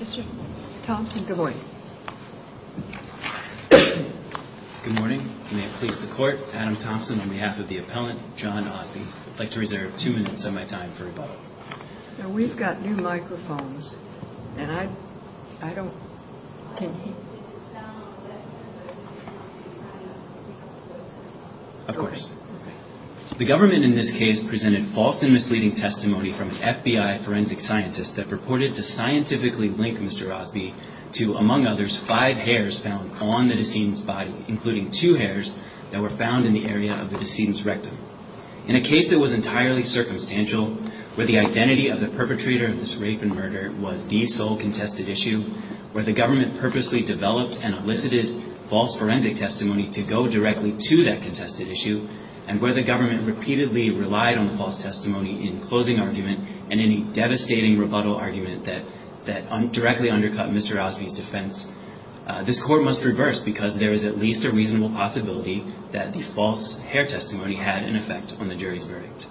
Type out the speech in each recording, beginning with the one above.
Mr. Thompson, good morning. Good morning. May it please the court, Adam Thompson on behalf of the appellant, John Ausby. I'd like to reserve two minutes of my time for rebuttal. We've got new microphones and I, I don't, can you. Of course. The government in this case presented false and misleading testimony from an FBI forensic scientist that purported to scientifically link Mr. Ausby to, among others, five hairs found on the decedent's body, including two hairs that were found in the area of the decedent's rectum. In a case that was entirely circumstantial, where the identity of the perpetrator of this rape and murder was the sole contested issue, where the government purposely developed and elicited false forensic testimony to go directly to that contested issue, and where the government repeatedly relied on the false testimony in closing argument and any devastating rebuttal argument that, that directly undercut Mr. Ausby's defense, this court must reverse because there is at least a reasonable possibility that the false hair testimony had an effect on the jury's verdict.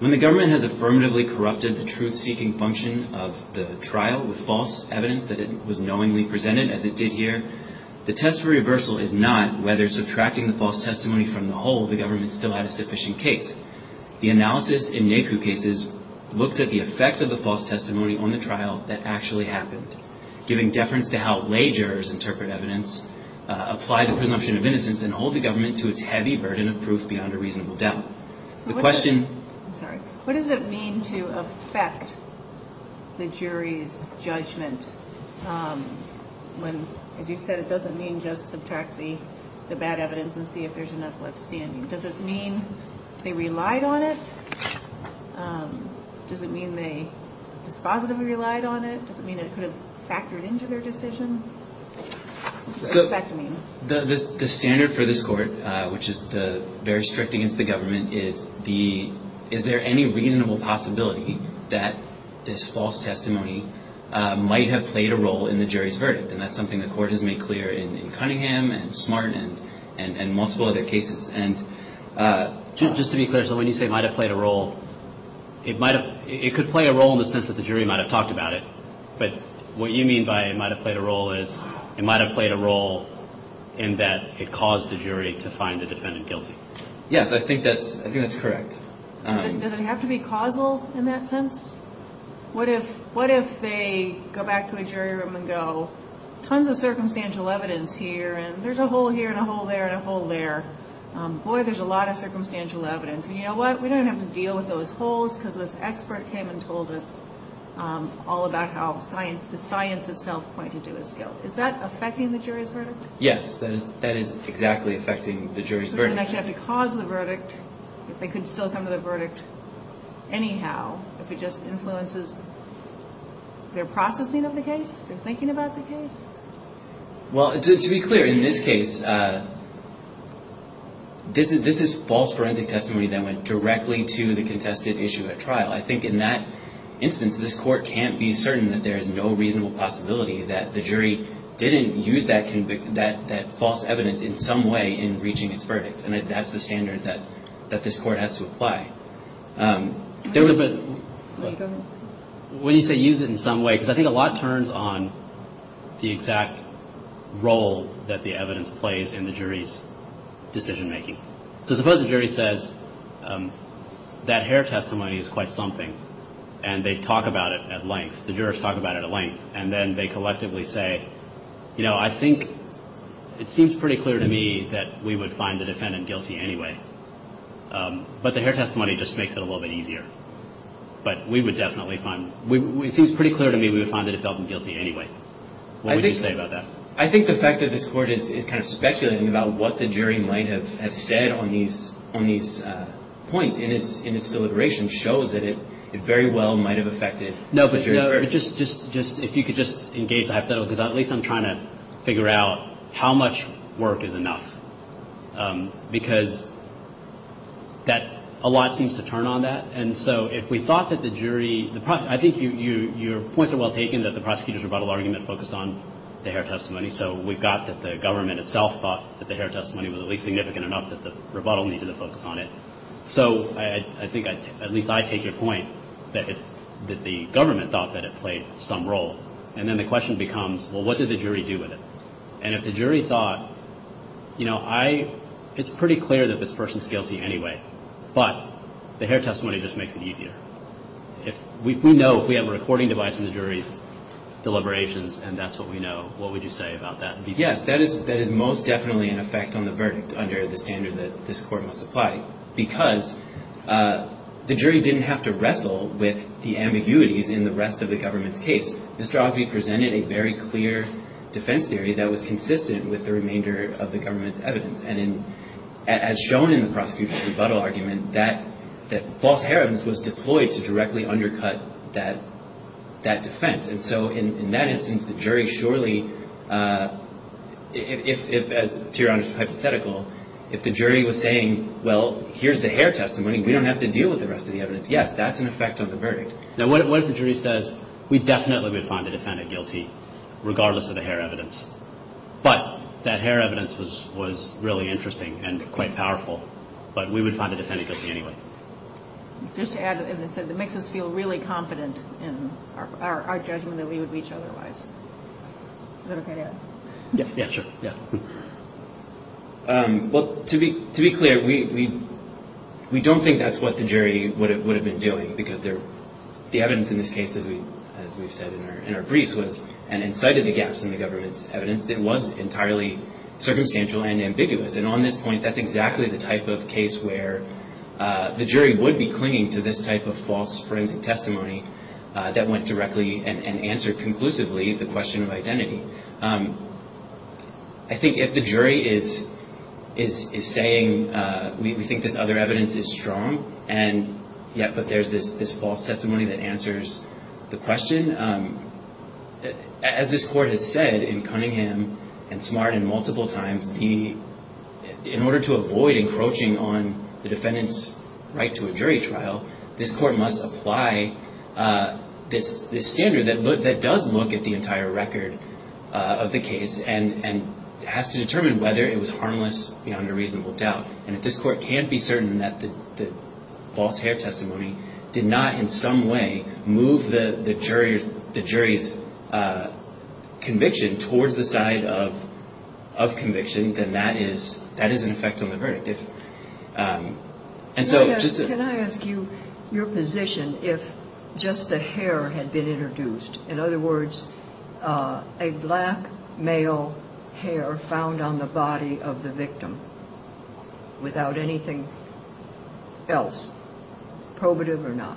When the government has affirmatively corrupted the truth-seeking function of the trial with false evidence that it was knowingly presented, as it did here, the test for reversal is not whether subtracting the false testimony from the whole, the government still had a sufficient case. The analysis in NACU cases looks at the effect of the false testimony on the trial that actually happened, giving deference to how lay jurors interpret evidence, apply the presumption of innocence, and hold the government to its heavy burden of proof beyond a reasonable doubt. The question. What does it mean to affect the jury's judgment? When, as you've said, it doesn't mean just subtract the bad evidence and see if there's enough left standing. Does it mean they relied on it? Does it mean they dispositively relied on it? Does it mean it could have factored into their decision? So the standard for this court, which is very strict against the government, is the, is there any reasonable possibility that this false testimony might have played a role in the jury's verdict? And that's something the court has made clear in Cunningham and Smart and multiple other cases. And just to be clear, so when you say it might have played a role, it might have, it could play a role in the sense that the jury might have talked about it. But what you mean by it might have played a role is it might have played a role in that it caused the jury to find the defendant guilty. Yes, I think that's, I think that's correct. Does it have to be causal in that sense? What if, what if they go back to a jury room and go, tons of circumstantial evidence here and there's a hole here and a hole there and a hole there. Boy, there's a lot of circumstantial evidence. And you know what? We don't have to deal with those holes because this expert came and told us all about how science, the science itself pointed to his guilt. Is that affecting the jury's verdict? Yes, that is exactly affecting the jury's verdict. They don't actually have to cause the verdict if they could still come to the verdict. Anyhow, if it just influences their processing of the case, their thinking about the case. Well, to be clear, in this case, this is this is false forensic testimony that went directly to the contested issue at trial. I think in that instance, this court can't be certain that there is no reasonable possibility that the jury didn't use that that that false evidence in some way in reaching its verdict. And that's the standard that that this court has to apply. There was a bit when you say use it in some way, because I think a lot turns on the exact role that the evidence plays in the jury's decision making. So suppose the jury says that hair testimony is quite something and they talk about it at length. The jurors talk about it at length and then they collectively say, you know, I think it seems pretty clear to me that we would find the defendant guilty anyway. But the hair testimony just makes it a little bit easier. But we would definitely find it seems pretty clear to me we would find the defendant guilty anyway. I think about that. I think the fact that this court is kind of speculating about what the jury might have said on these on these points in its in its deliberation shows that it very well might have affected. No, but you're just just just if you could just engage the hypothetical, because at least I'm trying to figure out how much work is enough, because that a lot seems to turn on that. And so if we thought that the jury, I think your points are well taken that the prosecutor's rebuttal argument focused on the hair testimony. So we've got the government itself thought that the hair testimony was at least significant enough that the rebuttal needed to focus on it. So I think at least I take your point that the government thought that it played some role. And then the question becomes, well, what did the jury do with it? And if the jury thought, you know, I it's pretty clear that this person's guilty anyway. But the hair testimony just makes it easier. If we know if we have a recording device in the jury's deliberations and that's what we know, what would you say about that? Yes, that is that is most definitely an effect on the verdict under the standard that this court must apply because the jury didn't have to wrestle with the ambiguities in the rest of the government's case. Mr. Ogbe presented a very clear defense theory that was consistent with the remainder of the government's evidence. And as shown in the prosecution's rebuttal argument, that that false hair evidence was deployed to directly undercut that that defense. And so in that instance, the jury surely if as to your hypothetical, if the jury was saying, well, here's the hair testimony, we don't have to deal with the rest of the evidence. Yes, that's an effect on the verdict. Now, what if the jury says we definitely would find the defendant guilty regardless of the hair evidence? But that hair evidence was was really interesting and quite powerful. But we would find the defendant guilty anyway. Just to add, it makes us feel really confident in our judgment that we would reach otherwise. Yeah, yeah, sure. Yeah. Well, to be to be clear, we we don't think that's what the jury would have would have been doing because they're the evidence in this case. As we as we've said in our briefs was and incited the gaps in the government's evidence that was entirely circumstantial and ambiguous. And on this point, that's exactly the type of case where the jury would be clinging to this type of false forensic testimony that went directly and answered conclusively. The question of identity. I think if the jury is is is saying we think this other evidence is strong and yet. But there's this this false testimony that answers the question. As this court has said in Cunningham and smart and multiple times, he in order to avoid encroaching on the defendant's right to a jury trial, this court must apply this standard that that does look at the entire record of the case and has to determine whether it was harmless under reasonable doubt. And if this court can't be certain that the false hair testimony did not in some way move the jury, the jury's conviction towards the side of of conviction, then that is that is an effect on the verdict. And so can I ask you your position if just the hair had been introduced? In other words, a black male hair found on the body of the victim without anything else probative or not?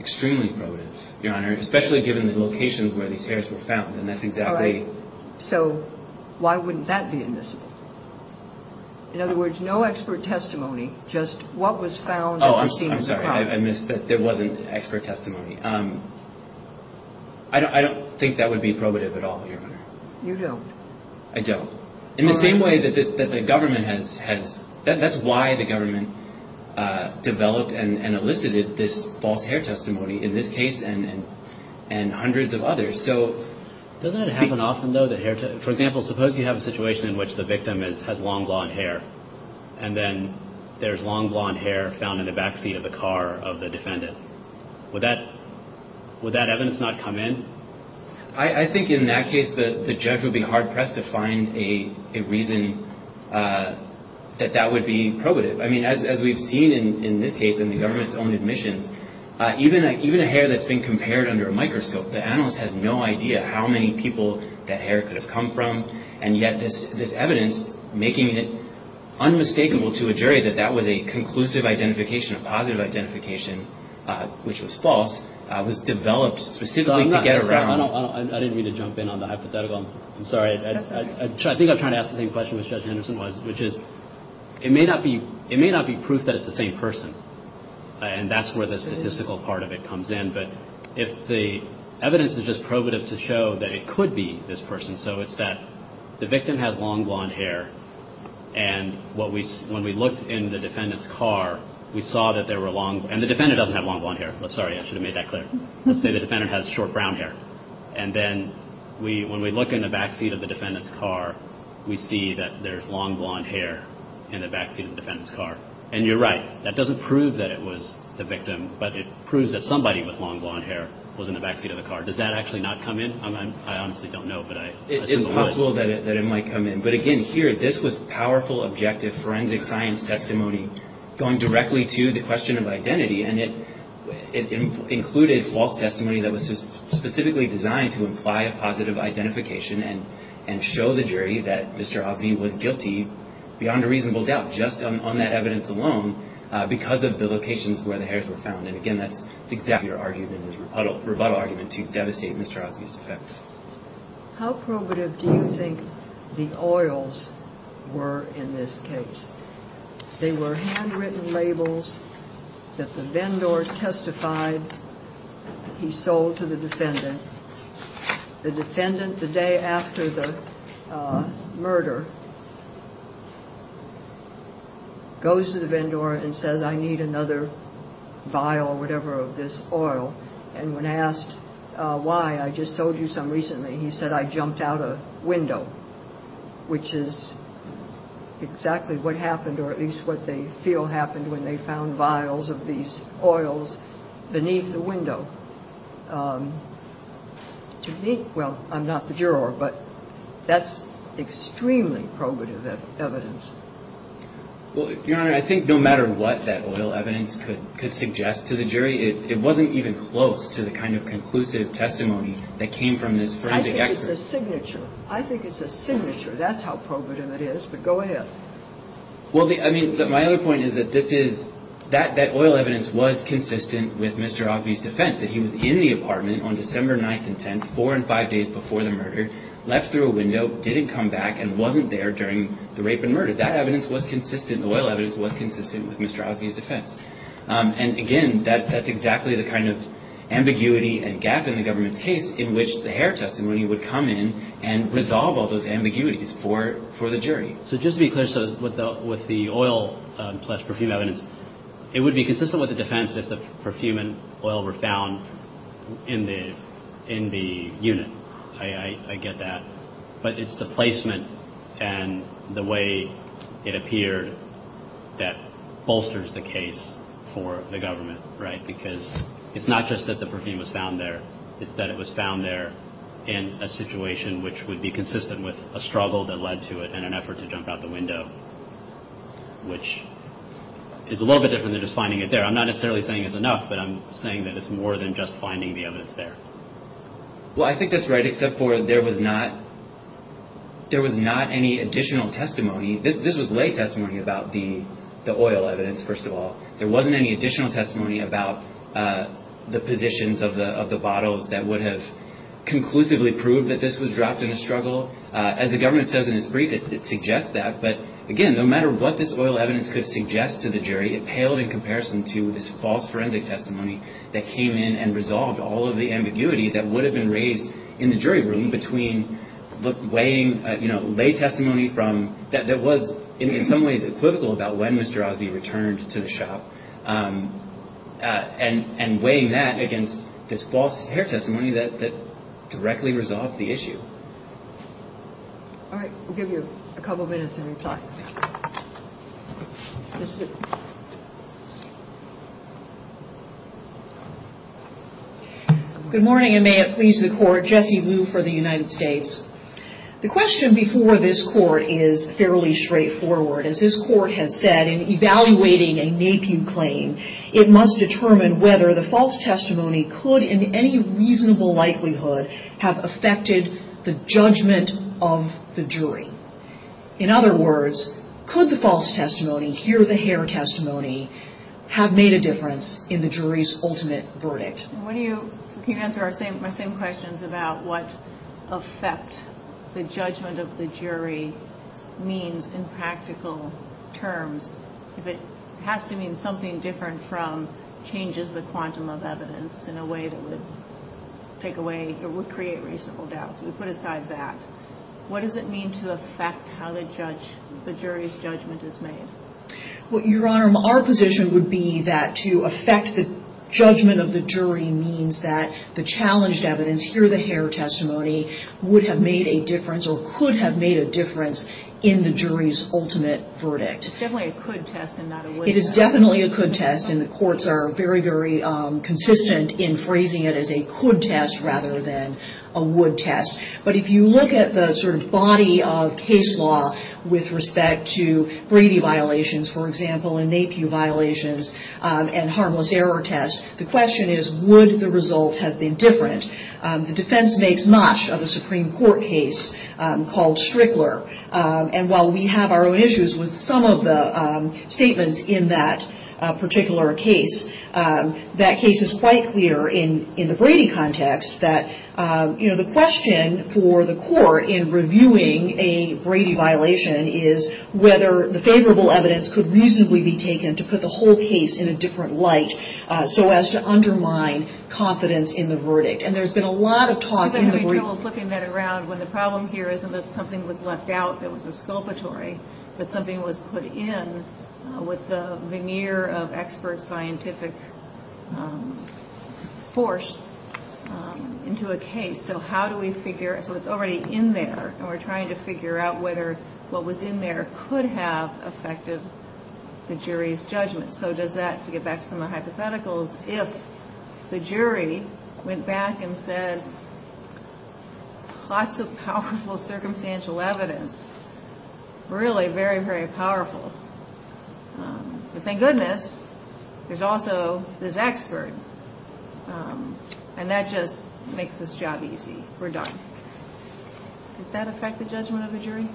Extremely probative, Your Honor, especially given the locations where these hairs were found. And that's exactly so. Why wouldn't that be in this? In other words, no expert testimony. Just what was found. Oh, I'm sorry. I missed that. There wasn't expert testimony. I don't think that would be probative at all. You don't. I don't. In the same way that this that the government has has. That's why the government developed and elicited this false hair testimony in this case and and hundreds of others. So doesn't it happen often, though, that hair, for example, suppose you have a situation in which the victim is has long blonde hair and then there's long blonde hair found in the backseat of the car of the defendant. Would that would that evidence not come in? I think in that case, the judge would be hard pressed to find a reason that that would be probative. I mean, as we've seen in this case in the government's own admissions, even even a hair that's been compared under a microscope. The analyst has no idea how many people that hair could have come from. And yet this this evidence making it unmistakable to a jury that that was a conclusive identification of positive identification, which was false, was developed specifically to get around. I didn't mean to jump in on the hypothetical. I'm sorry. I think I'm trying to ask the same question as Judge Henderson was, which is it may not be. It may not be proof that it's the same person. And that's where the statistical part of it comes in. But if the evidence is just probative to show that it could be this person. So it's that the victim has long blonde hair. And what we when we looked in the defendant's car, we saw that there were long. And the defendant doesn't have long blonde hair. I'm sorry. I should have made that clear. Let's say the defendant has short brown hair. And then we when we look in the backseat of the defendant's car, we see that there's long blonde hair in the backseat of the defendant's car. And you're right. That doesn't prove that it was the victim. But it proves that somebody with long blonde hair was in the backseat of the car. Does that actually not come in? I honestly don't know. But it is possible that it might come in. But again, here, this was powerful, objective forensic science testimony going directly to the question of identity. And it included false testimony that was specifically designed to imply a positive identification and and show the jury that Mr. Osby was guilty beyond a reasonable doubt, just on that evidence alone, because of the locations where the hairs were found. And again, that's exactly your argument, the rebuttal argument to devastate Mr. Osby's defense. How probative do you think the oils were in this case? They were handwritten labels that the vendor testified he sold to the defendant. The defendant, the day after the murder, goes to the vendor and says, I need another vial or whatever of this oil. And when asked why, I just told you some recently, he said, I jumped out a window, which is exactly what happened or at least what they feel happened when they found vials of these oils beneath the window. So to me, well, I'm not the juror, but that's extremely probative evidence. Well, Your Honor, I think no matter what that oil evidence could suggest to the jury, it wasn't even close to the kind of conclusive testimony that came from this forensic expert. I think it's a signature. I think it's a signature. That's how probative it is. But go ahead. Well, I mean, my other point is that this is that that oil evidence was consistent with Mr. Osby's defense that he was in the apartment on December 9th and 10th, four and five days before the murder, left through a window, didn't come back and wasn't there during the rape and murder. That evidence was consistent. The oil evidence was consistent with Mr. Osby's defense. And again, that that's exactly the kind of ambiguity and gap in the government's case in which the hair testimony would come in and resolve all those ambiguities for for the jury. So just because with the with the oil perfume evidence, it would be consistent with the defense if the perfume and oil were found in the in the unit. I get that. But it's the placement and the way it appeared that bolsters the case for the government. Right. Because it's not just that the perfume was found there. It's that it was found there in a situation which would be consistent with a struggle that led to it and an effort to jump out the window, which is a little bit different than just finding it there. I'm not necessarily saying it's enough, but I'm saying that it's more than just finding the evidence there. Well, I think that's right, except for there was not. There was not any additional testimony. This was late testimony about the the oil evidence. First of all, there wasn't any additional testimony about the positions of the of the bottles that would have conclusively proved that this was dropped in a struggle. As the government says in its brief, it suggests that. But again, no matter what this oil evidence could suggest to the jury, it paled in comparison to this false forensic testimony that came in and resolved all of the ambiguity that would have been raised in the jury room between late testimony that was in some ways equivocal about when Mr. Osby returned to the shop and weighing that against this false testimony that directly resolved the issue. All right. We'll give you a couple of minutes to reply. Good morning, and may it please the court. Jesse Liu for the United States. The question before this court is fairly straightforward. As this court has said in evaluating a NAPIU claim, it must determine whether the false testimony could in any reasonable likelihood have affected the judgment of the jury. In other words, could the false testimony here, the hair testimony have made a difference in the jury's ultimate verdict? What do you answer? I say my same questions about what effect the judgment of the jury means in practical terms. If it has to mean something different from changes, the quantum of evidence in a way that would take away or would create reasonable doubts. We put aside that. What does it mean to affect how the judge, the jury's judgment is made? Well, Your Honor, our position would be that to affect the judgment of the jury means that the challenged evidence, here the hair testimony, would have made a difference or could have made a difference in the jury's ultimate verdict. It's definitely a could test and not a would test. But if you look at the sort of body of case law with respect to Brady violations, for example, and NAPIU violations and harmless error tests, the question is would the result have been different? The defense makes much of a Supreme Court case called Strickler. And while we have our own issues with some of the statements in that particular case, that case is quite clear in the Brady context that the question for the court in reviewing a Brady violation is whether the favorable evidence could reasonably be taken to put the whole case in a different light so as to undermine confidence in the verdict. And there's been a lot of talk in the group. left out that was exculpatory, that something was put in with the veneer of expert scientific force into a case. So how do we figure? So it's already in there. And we're trying to figure out whether what was in there could have affected the jury's judgment. So does that, to get back to some of the hypotheticals, if the jury went back and said lots of powerful circumstantial evidence, really very, very powerful. But thank goodness there's also this expert. And that just makes this job easy. We're done. Did that affect the judgment of the jury?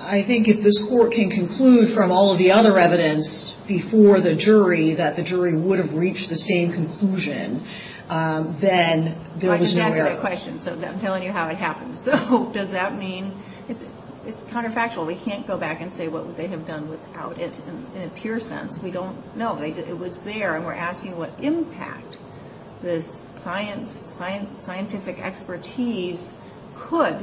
I think if this court can conclude from all of the other evidence before the jury that the jury would have reached the same conclusion, then there was no error. I'm telling you how it happened. So does that mean, it's counterfactual. We can't go back and say what would they have done without it in a pure sense. We don't know. It was there and we're asking what impact this scientific expertise could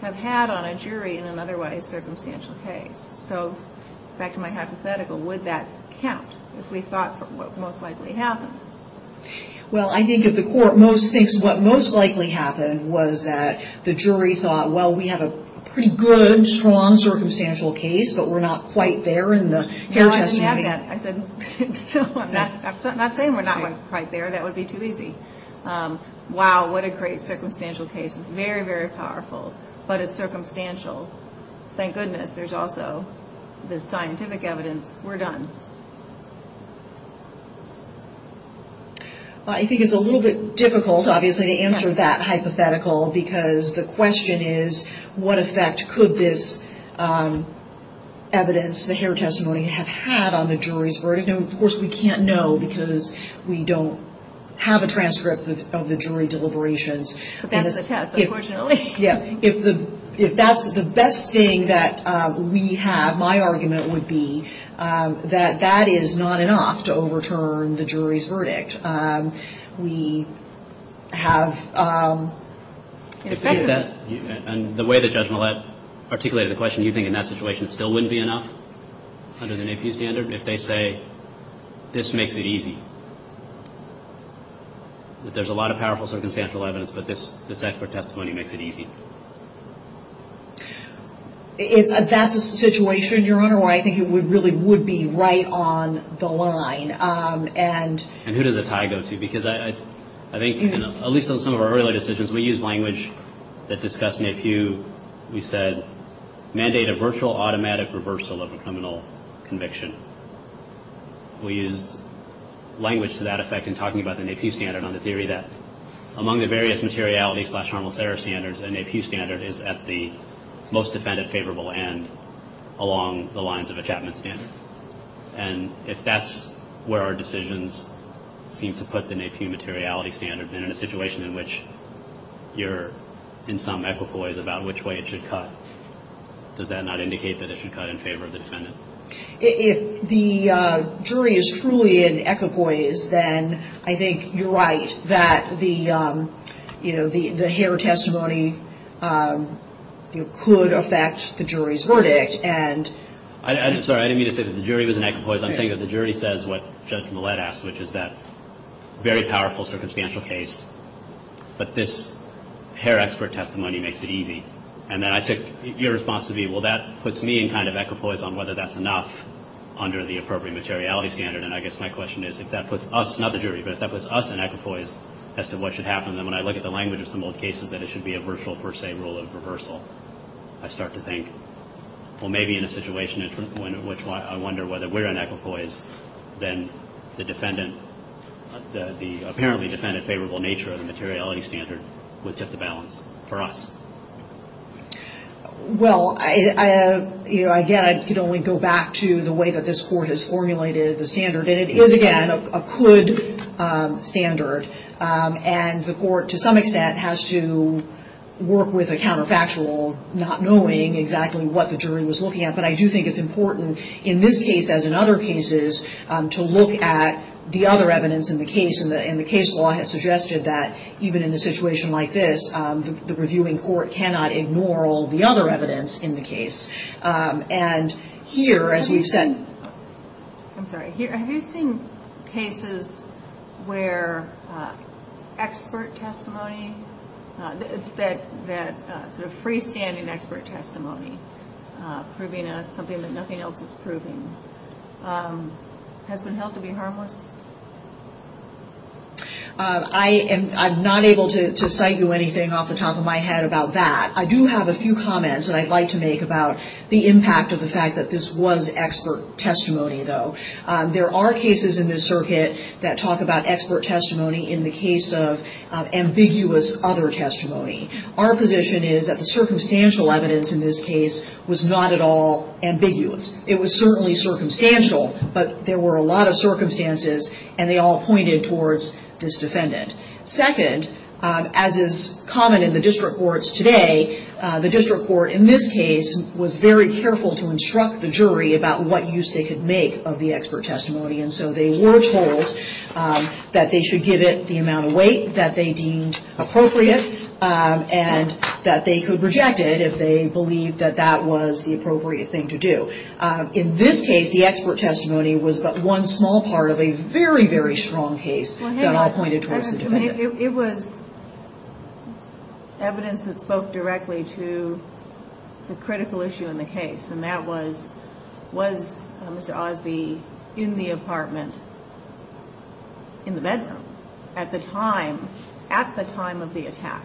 have had on a jury in an otherwise circumstantial case. So back to my hypothetical, would that count if we thought what most likely happened? Well, I think if the court thinks what most likely happened was that the jury thought, well, we have a pretty good, strong circumstantial case, but we're not quite there in the hair testimony. I said, I'm not saying we're not quite there. That would be too easy. Wow, what a great circumstantial case. Very, very powerful. But it's circumstantial. Thank goodness there's also the scientific evidence. We're done. I think it's a little bit difficult, obviously, to answer that hypothetical, because the question is what effect could this evidence, the hair testimony, have had on the jury's verdict? Of course, we can't know because we don't have a transcript of the jury deliberations. That's the test, unfortunately. If that's the best thing that we have, my argument would be that that is not enough to overturn the jury's verdict. We have an effect. And the way that Judge Millett articulated the question, you think in that situation it still wouldn't be enough under the NAEPU standard if they say this makes it easy, that there's a lot of powerful circumstantial evidence, but this expert testimony makes it easy? That's a situation, Your Honor, where I think it really would be right on the line. And who does the tie go to? Because I think, at least in some of our earlier decisions, we used language that discussed NAEPU. We said, mandate a virtual automatic reversal of a criminal conviction. We used language to that effect in talking about the NAEPU standard on the theory that, among the various materiality-slash-harmless-error standards, a NAEPU standard is at the most defendant-favorable end along the lines of a Chapman standard. And if that's where our decisions seem to put the NAEPU materiality standard, then in a situation in which you're in some equipoise about which way it should cut, does that not indicate that it should cut in favor of the defendant? If the jury is truly in equipoise, then I think you're right that the hair testimony could affect the jury's verdict. And I'm sorry, I didn't mean to say that the jury was in equipoise. I'm saying that the jury says what Judge Millett asked, which is that very powerful circumstantial case, but this hair expert testimony makes it easy. And then I took your response to be, well, that puts me in kind of equipoise on whether that's enough under the appropriate materiality standard. And I guess my question is, if that puts us, not the jury, but if that puts us in equipoise as to what should happen, then when I look at the language of some old cases that it should be a virtual-per-se rule of reversal, I start to think, well, maybe in a situation in which I wonder whether we're in equipoise, then the defendant, the apparently defendant favorable nature of the materiality standard would tip the balance for us. Well, again, I could only go back to the way that this Court has formulated the standard. And it is, again, a could standard. And the Court, to some extent, has to work with a counterfactual, not knowing exactly what the jury was looking at. But I do think it's important in this case, as in other cases, to look at the other evidence in the case. And the case law has suggested that even in a situation like this, the reviewing Court cannot ignore all the other evidence in the case. And here, as we've said... I'm sorry, have you seen cases where expert testimony, that sort of freestanding expert testimony, proving something that nothing else is proving, has been held to be harmless? I'm not able to cite you anything off the top of my head about that. I do have a few comments that I'd like to make about the impact of the fact that this was expert testimony, though. There are cases in this circuit that talk about expert testimony in the case of ambiguous other testimony. Our position is that the circumstantial evidence in this case was not at all ambiguous. It was certainly circumstantial, but there were a lot of circumstances, and they all pointed towards this defendant. Second, as is common in the district courts today, the district court in this case was very careful to instruct the jury about what use they could make of the expert testimony. And so they were told that they should give it the amount of weight that they deemed appropriate, and that they could reject it if they believed that that was the appropriate thing to do. In this case, the expert testimony was but one small part of a very, very strong case that all pointed towards the defendant. It was evidence that spoke directly to the critical issue in the case, and that was, was Mr. Osby in the apartment in the bedroom at the time, at the time of the attack?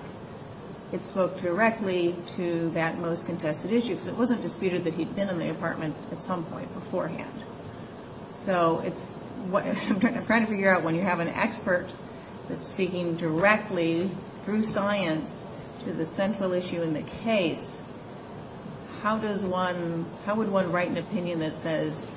It spoke directly to that most contested issue, because it wasn't disputed that he'd been in the apartment at some point beforehand. So it's what I'm trying to figure out. When you have an expert that's speaking directly through science to the central issue in the case, how does one, how would one write an opinion that says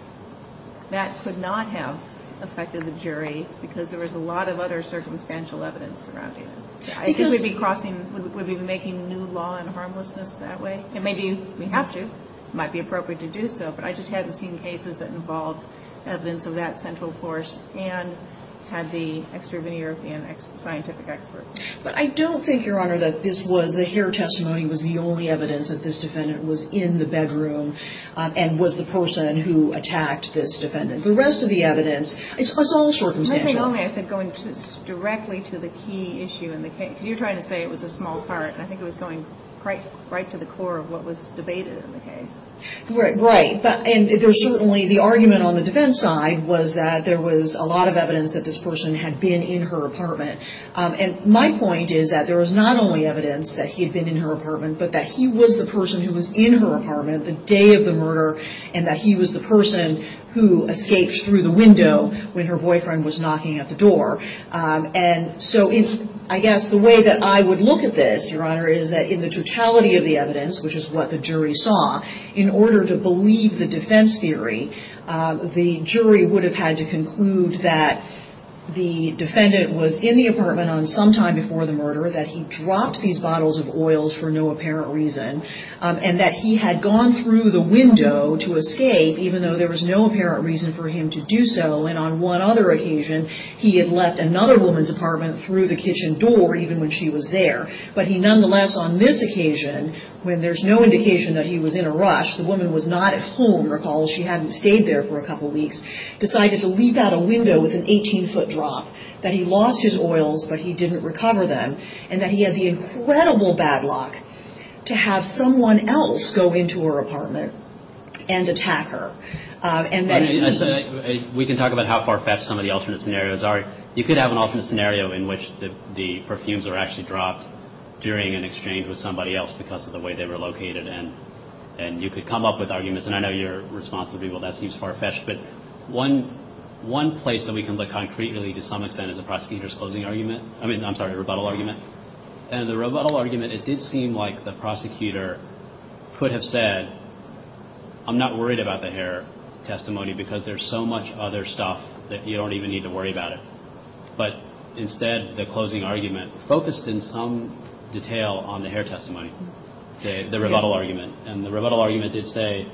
that could not have affected the jury because there was a lot of other circumstantial evidence surrounding it? I think we'd be crossing, we'd be making new law and harmlessness that way. And maybe we have to. It might be appropriate to do so. But I just haven't seen cases that involve evidence of that central force and had the extraveneur of the scientific expert. But I don't think, Your Honor, that this was, that your testimony was the only evidence that this defendant was in the bedroom and was the person who attacked this defendant. The rest of the evidence, it's all circumstantial. The only thing I said going directly to the key issue in the case, because you're trying to say it was a small part, and I think it was going right to the core of what was debated in the case. Right. And certainly the argument on the defense side was that there was a lot of evidence that this person had been in her apartment. And my point is that there was not only evidence that he had been in her apartment, but that he was the person who was in her apartment the day of the murder and that he was the person who escaped through the window when her boyfriend was knocking at the door. And so I guess the way that I would look at this, Your Honor, is that in the totality of the evidence, which is what the jury saw, in order to believe the defense theory, the jury would have had to conclude that the defendant was in the apartment on some time before the murder, that he dropped these bottles of oils for no apparent reason, and that he had gone through the window to escape, even though there was no apparent reason for him to do so. And on one other occasion, he had left another woman's apartment through the kitchen door, even when she was there. But he nonetheless, on this occasion, when there's no indication that he was in a rush, the woman was not at home, recall, she hadn't stayed there for a couple weeks, decided to leap out a window with an 18-foot drop, that he lost his oils, but he didn't recover them, and that he had the incredible bad luck to have someone else go into her apartment and attack her. We can talk about how far-fetched some of the alternate scenarios are. You could have an alternate scenario in which the perfumes were actually dropped during an exchange with somebody else because of the way they were located, and you could come up with arguments, and I know your response would be, well, that seems far-fetched, but one place that we can look concretely, to some extent, is a prosecutor's closing argument. I mean, I'm sorry, a rebuttal argument. And the rebuttal argument, it did seem like the prosecutor could have said, I'm not worried about the hair testimony because there's so much other stuff that you don't even need to worry about it. But instead, the closing argument focused in some detail on the hair testimony, the rebuttal argument. And the rebuttal argument did say,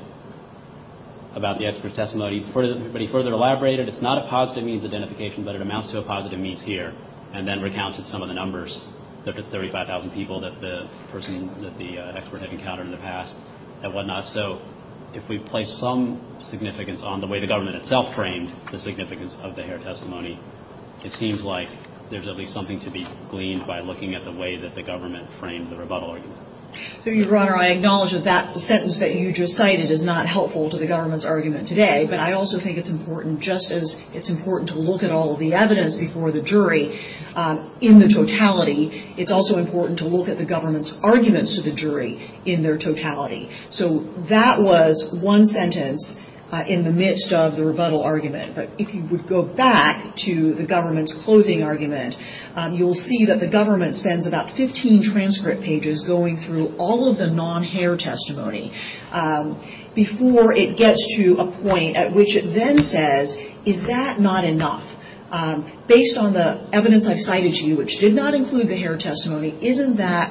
about the expert testimony, before anybody further elaborated, it's not a positive means identification, but it amounts to a positive means here, and then recounted some of the numbers, the 35,000 people that the person, that the expert had encountered in the past, and whatnot. So, if we place some significance on the way the government itself framed the significance of the hair testimony, it seems like there's at least something to be gleaned by looking at the way that the government framed the rebuttal argument. So, Your Honor, I acknowledge that that sentence that you just cited is not helpful to the government's argument today, but I also think it's important, just as it's important to look at all of the evidence before the jury, in the totality, it's also important to look at the government's arguments to the jury in their totality. So, that was one sentence in the midst of the rebuttal argument, but if you would go back to the government's closing argument, you'll see that the government spends about 15 transcript pages going through all of the non-hair testimony before it gets to a point at which it then says, is that not enough? Based on the evidence I've cited to you, which did not include the hair testimony, isn't that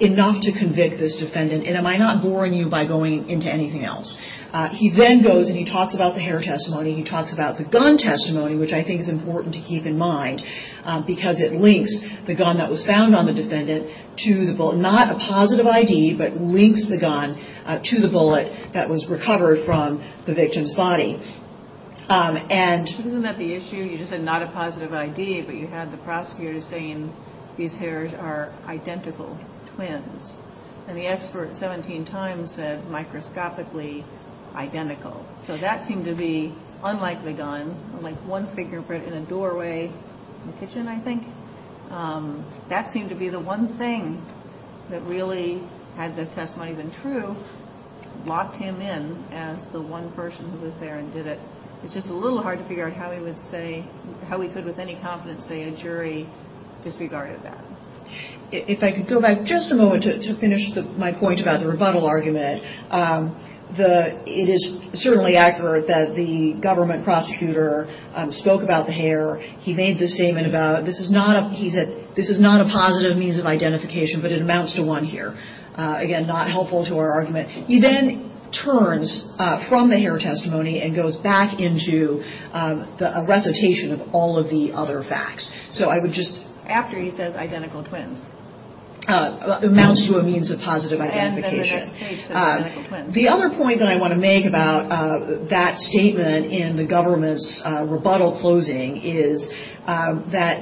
enough to convict this defendant and am I not boring you by going into anything else? He then goes and he talks about the hair testimony, he talks about the gun testimony, which I think is important to keep in mind because it links the gun that was found on the defendant to the bullet, not a positive ID, but links the gun to the bullet that was recovered from the victim's body. Isn't that the issue? You just said not a positive ID, but you had the prosecutor saying these hairs are identical twins, and the expert 17 times said microscopically identical. So, that seemed to be, unlike the gun, like one fingerprint in a doorway in the kitchen, I think, that seemed to be the one thing that really, had the testimony been true, locked him in as the one person who was there and did it, it's just a little hard to figure out how we could with any confidence say a jury disregarded that. If I could go back just a moment to finish my point about the rebuttal argument, it is certainly accurate that the government prosecutor spoke about the hair, he made the statement about this is not a positive means of identification, but it amounts to one here. Again, not helpful to our argument. He then turns from the hair testimony and goes back into a recitation of all of the other facts. So, I would just... After he says identical twins. Amounts to a means of positive identification. And at that stage says identical twins. The other point that I want to make about that statement in the government's rebuttal closing is that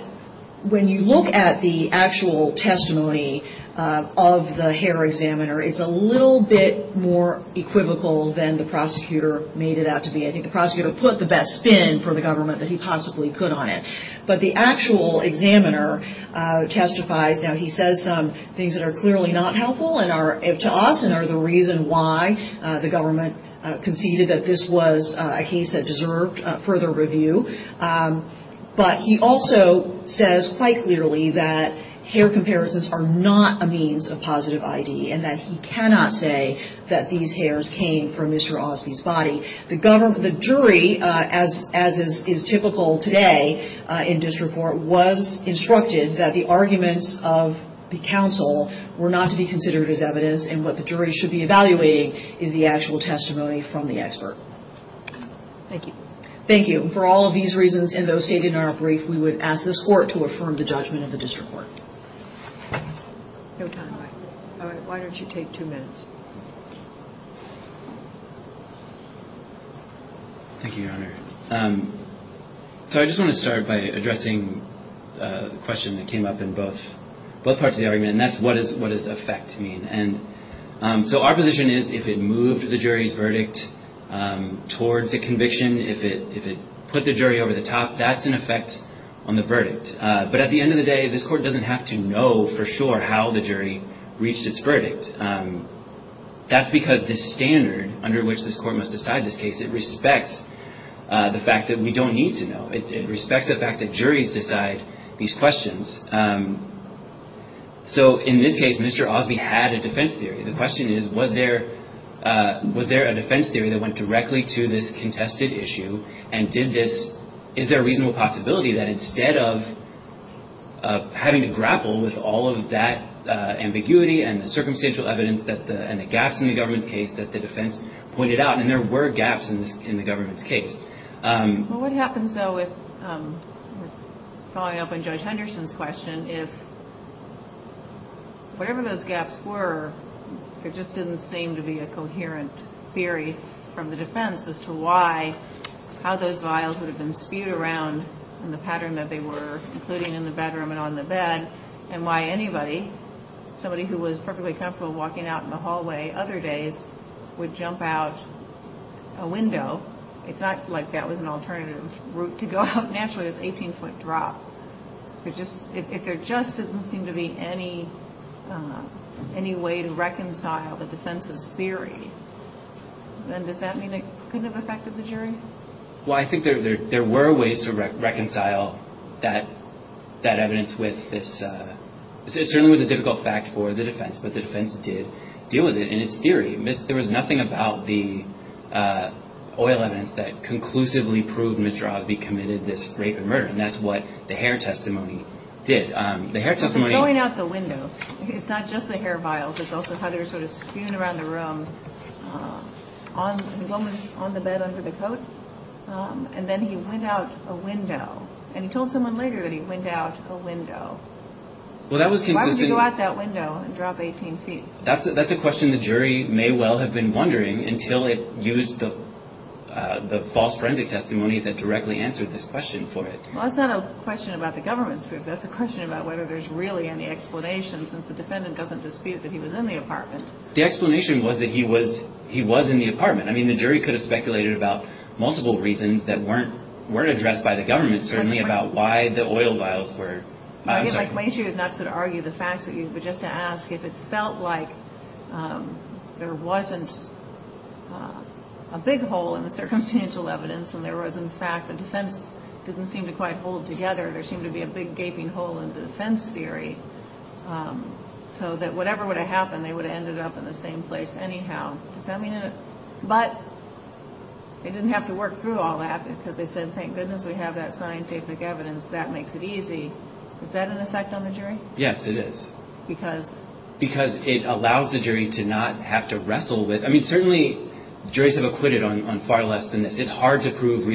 when you look at the actual testimony of the hair examiner, it's a little bit more equivocal than the prosecutor made it out to be. I think the prosecutor put the best spin for the government that he possibly could on it. But the actual examiner testifies, now he says some things that are clearly not helpful and are, to us, and are the reason why the government conceded that this was a case that deserved further review. But he also says quite clearly that hair comparisons are not a means of positive ID and that he cannot say that these hairs came from Mr. Osby's body. The jury, as is typical today in district court, was instructed that the arguments of the counsel were not to be considered as evidence and what the jury should be evaluating is the actual testimony from the expert. Thank you. Thank you. For all of these reasons and those stated in our brief, we would ask this court to affirm the judgment of the district court. No time. All right. Why don't you take two minutes? Thank you, Your Honor. So I just want to start by addressing the question that came up in both parts of the argument, and that's what does effect mean. And so our position is if it moved the jury's verdict towards a conviction, if it put the jury over the top, that's an effect on the verdict. But at the end of the day, this court doesn't have to know for sure how the jury reached its verdict. That's because the standard under which this court must decide this case, it respects the fact that we don't need to know. It respects the fact that juries decide these questions. So in this case, Mr. Osby had a defense theory. The question is, was there a defense theory that went directly to this contested issue and did this? Is there a reasonable possibility that instead of having to grapple with all of that ambiguity and the circumstantial evidence and the gaps in the government's case that the defense pointed out, and there were gaps in the government's case. Well, what happens, though, with following up on Judge Henderson's question, if whatever those gaps were, there just didn't seem to be a coherent theory from the defense as to why, how those vials would have been spewed around in the pattern that they were, including in the bedroom and on the bed, and why anybody, somebody who was perfectly comfortable walking out in the hallway other days, would jump out a window. It's not like that was an alternative route to go out. Naturally, it was an 18-foot drop. If there just didn't seem to be any way to reconcile the defense's theory, then does that mean it couldn't have affected the jury? Well, I think there were ways to reconcile that evidence with this. It certainly was a difficult fact for the defense, but the defense did deal with it in its theory. There was nothing about the oil evidence that conclusively proved Mr. Osby committed this rape and murder, and that's what the hair testimony did. The hair testimony... So going out the window, it's not just the hair vials. It's also how they were sort of spewing around the room. One was on the bed under the coat, and then he went out a window, and he told someone later that he went out a window. Why would you go out that window and drop 18 feet? That's a question the jury may well have been wondering until it used the false forensic testimony that directly answered this question for it. Well, that's not a question about the government's group. That's a question about whether there's really any explanation, since the defendant doesn't dispute that he was in the apartment. The explanation was that he was in the apartment. I mean, the jury could have speculated about multiple reasons that weren't addressed by the government, certainly about why the oil vials were... I'm sorry. My issue is not to argue the facts, but just to ask if it felt like there wasn't a big hole in the circumstantial evidence, and there was, in fact, a defense that didn't seem to quite hold together. There seemed to be a big gaping hole in the defense theory. So that whatever would have happened, they would have ended up in the same place anyhow. Does that mean that... But they didn't have to work through all that, because they said, thank goodness we have that scientific evidence. That makes it easy. Is that an effect on the jury? Yes, it is. Because? Because it allows the jury to not have to wrestle with... I mean, certainly, juries have acquitted on far less than this. It's hard to prove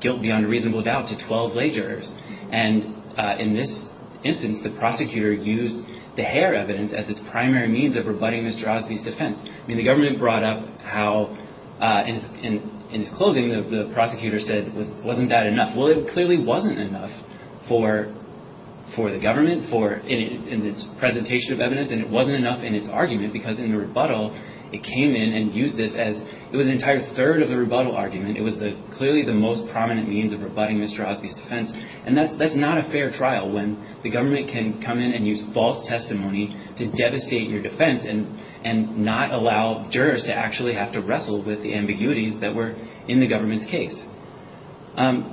guilt beyond a reasonable doubt to 12 lay jurors. And in this instance, the prosecutor used the Hare evidence as its primary means of rebutting Mr. Osby's defense. I mean, the government brought up how, in his closing, the prosecutor said, wasn't that enough? Well, it clearly wasn't enough for the government in its presentation of evidence, and it wasn't enough in its argument, because in the rebuttal, it came in and used this as... It was an entire third of the rebuttal argument. It was clearly the most prominent means of rebutting Mr. Osby's defense. And that's not a fair trial, when the government can come in and use false testimony to devastate your defense and not allow jurors to actually have to wrestle with the ambiguities that were in the government's case. All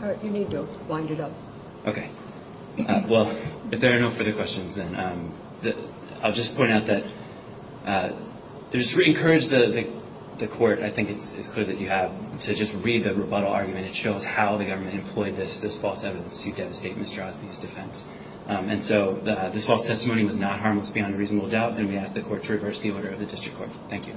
right, you need to wind it up. Okay. Well, if there are no further questions, then I'll just point out that... Just to re-encourage the court, I think it's clear that you have to just read the rebuttal argument. And it shows how the government employed this false evidence to devastate Mr. Osby's defense. And so this false testimony was not harmless beyond reasonable doubt, and we ask the court to reverse the order of the district court. Thank you.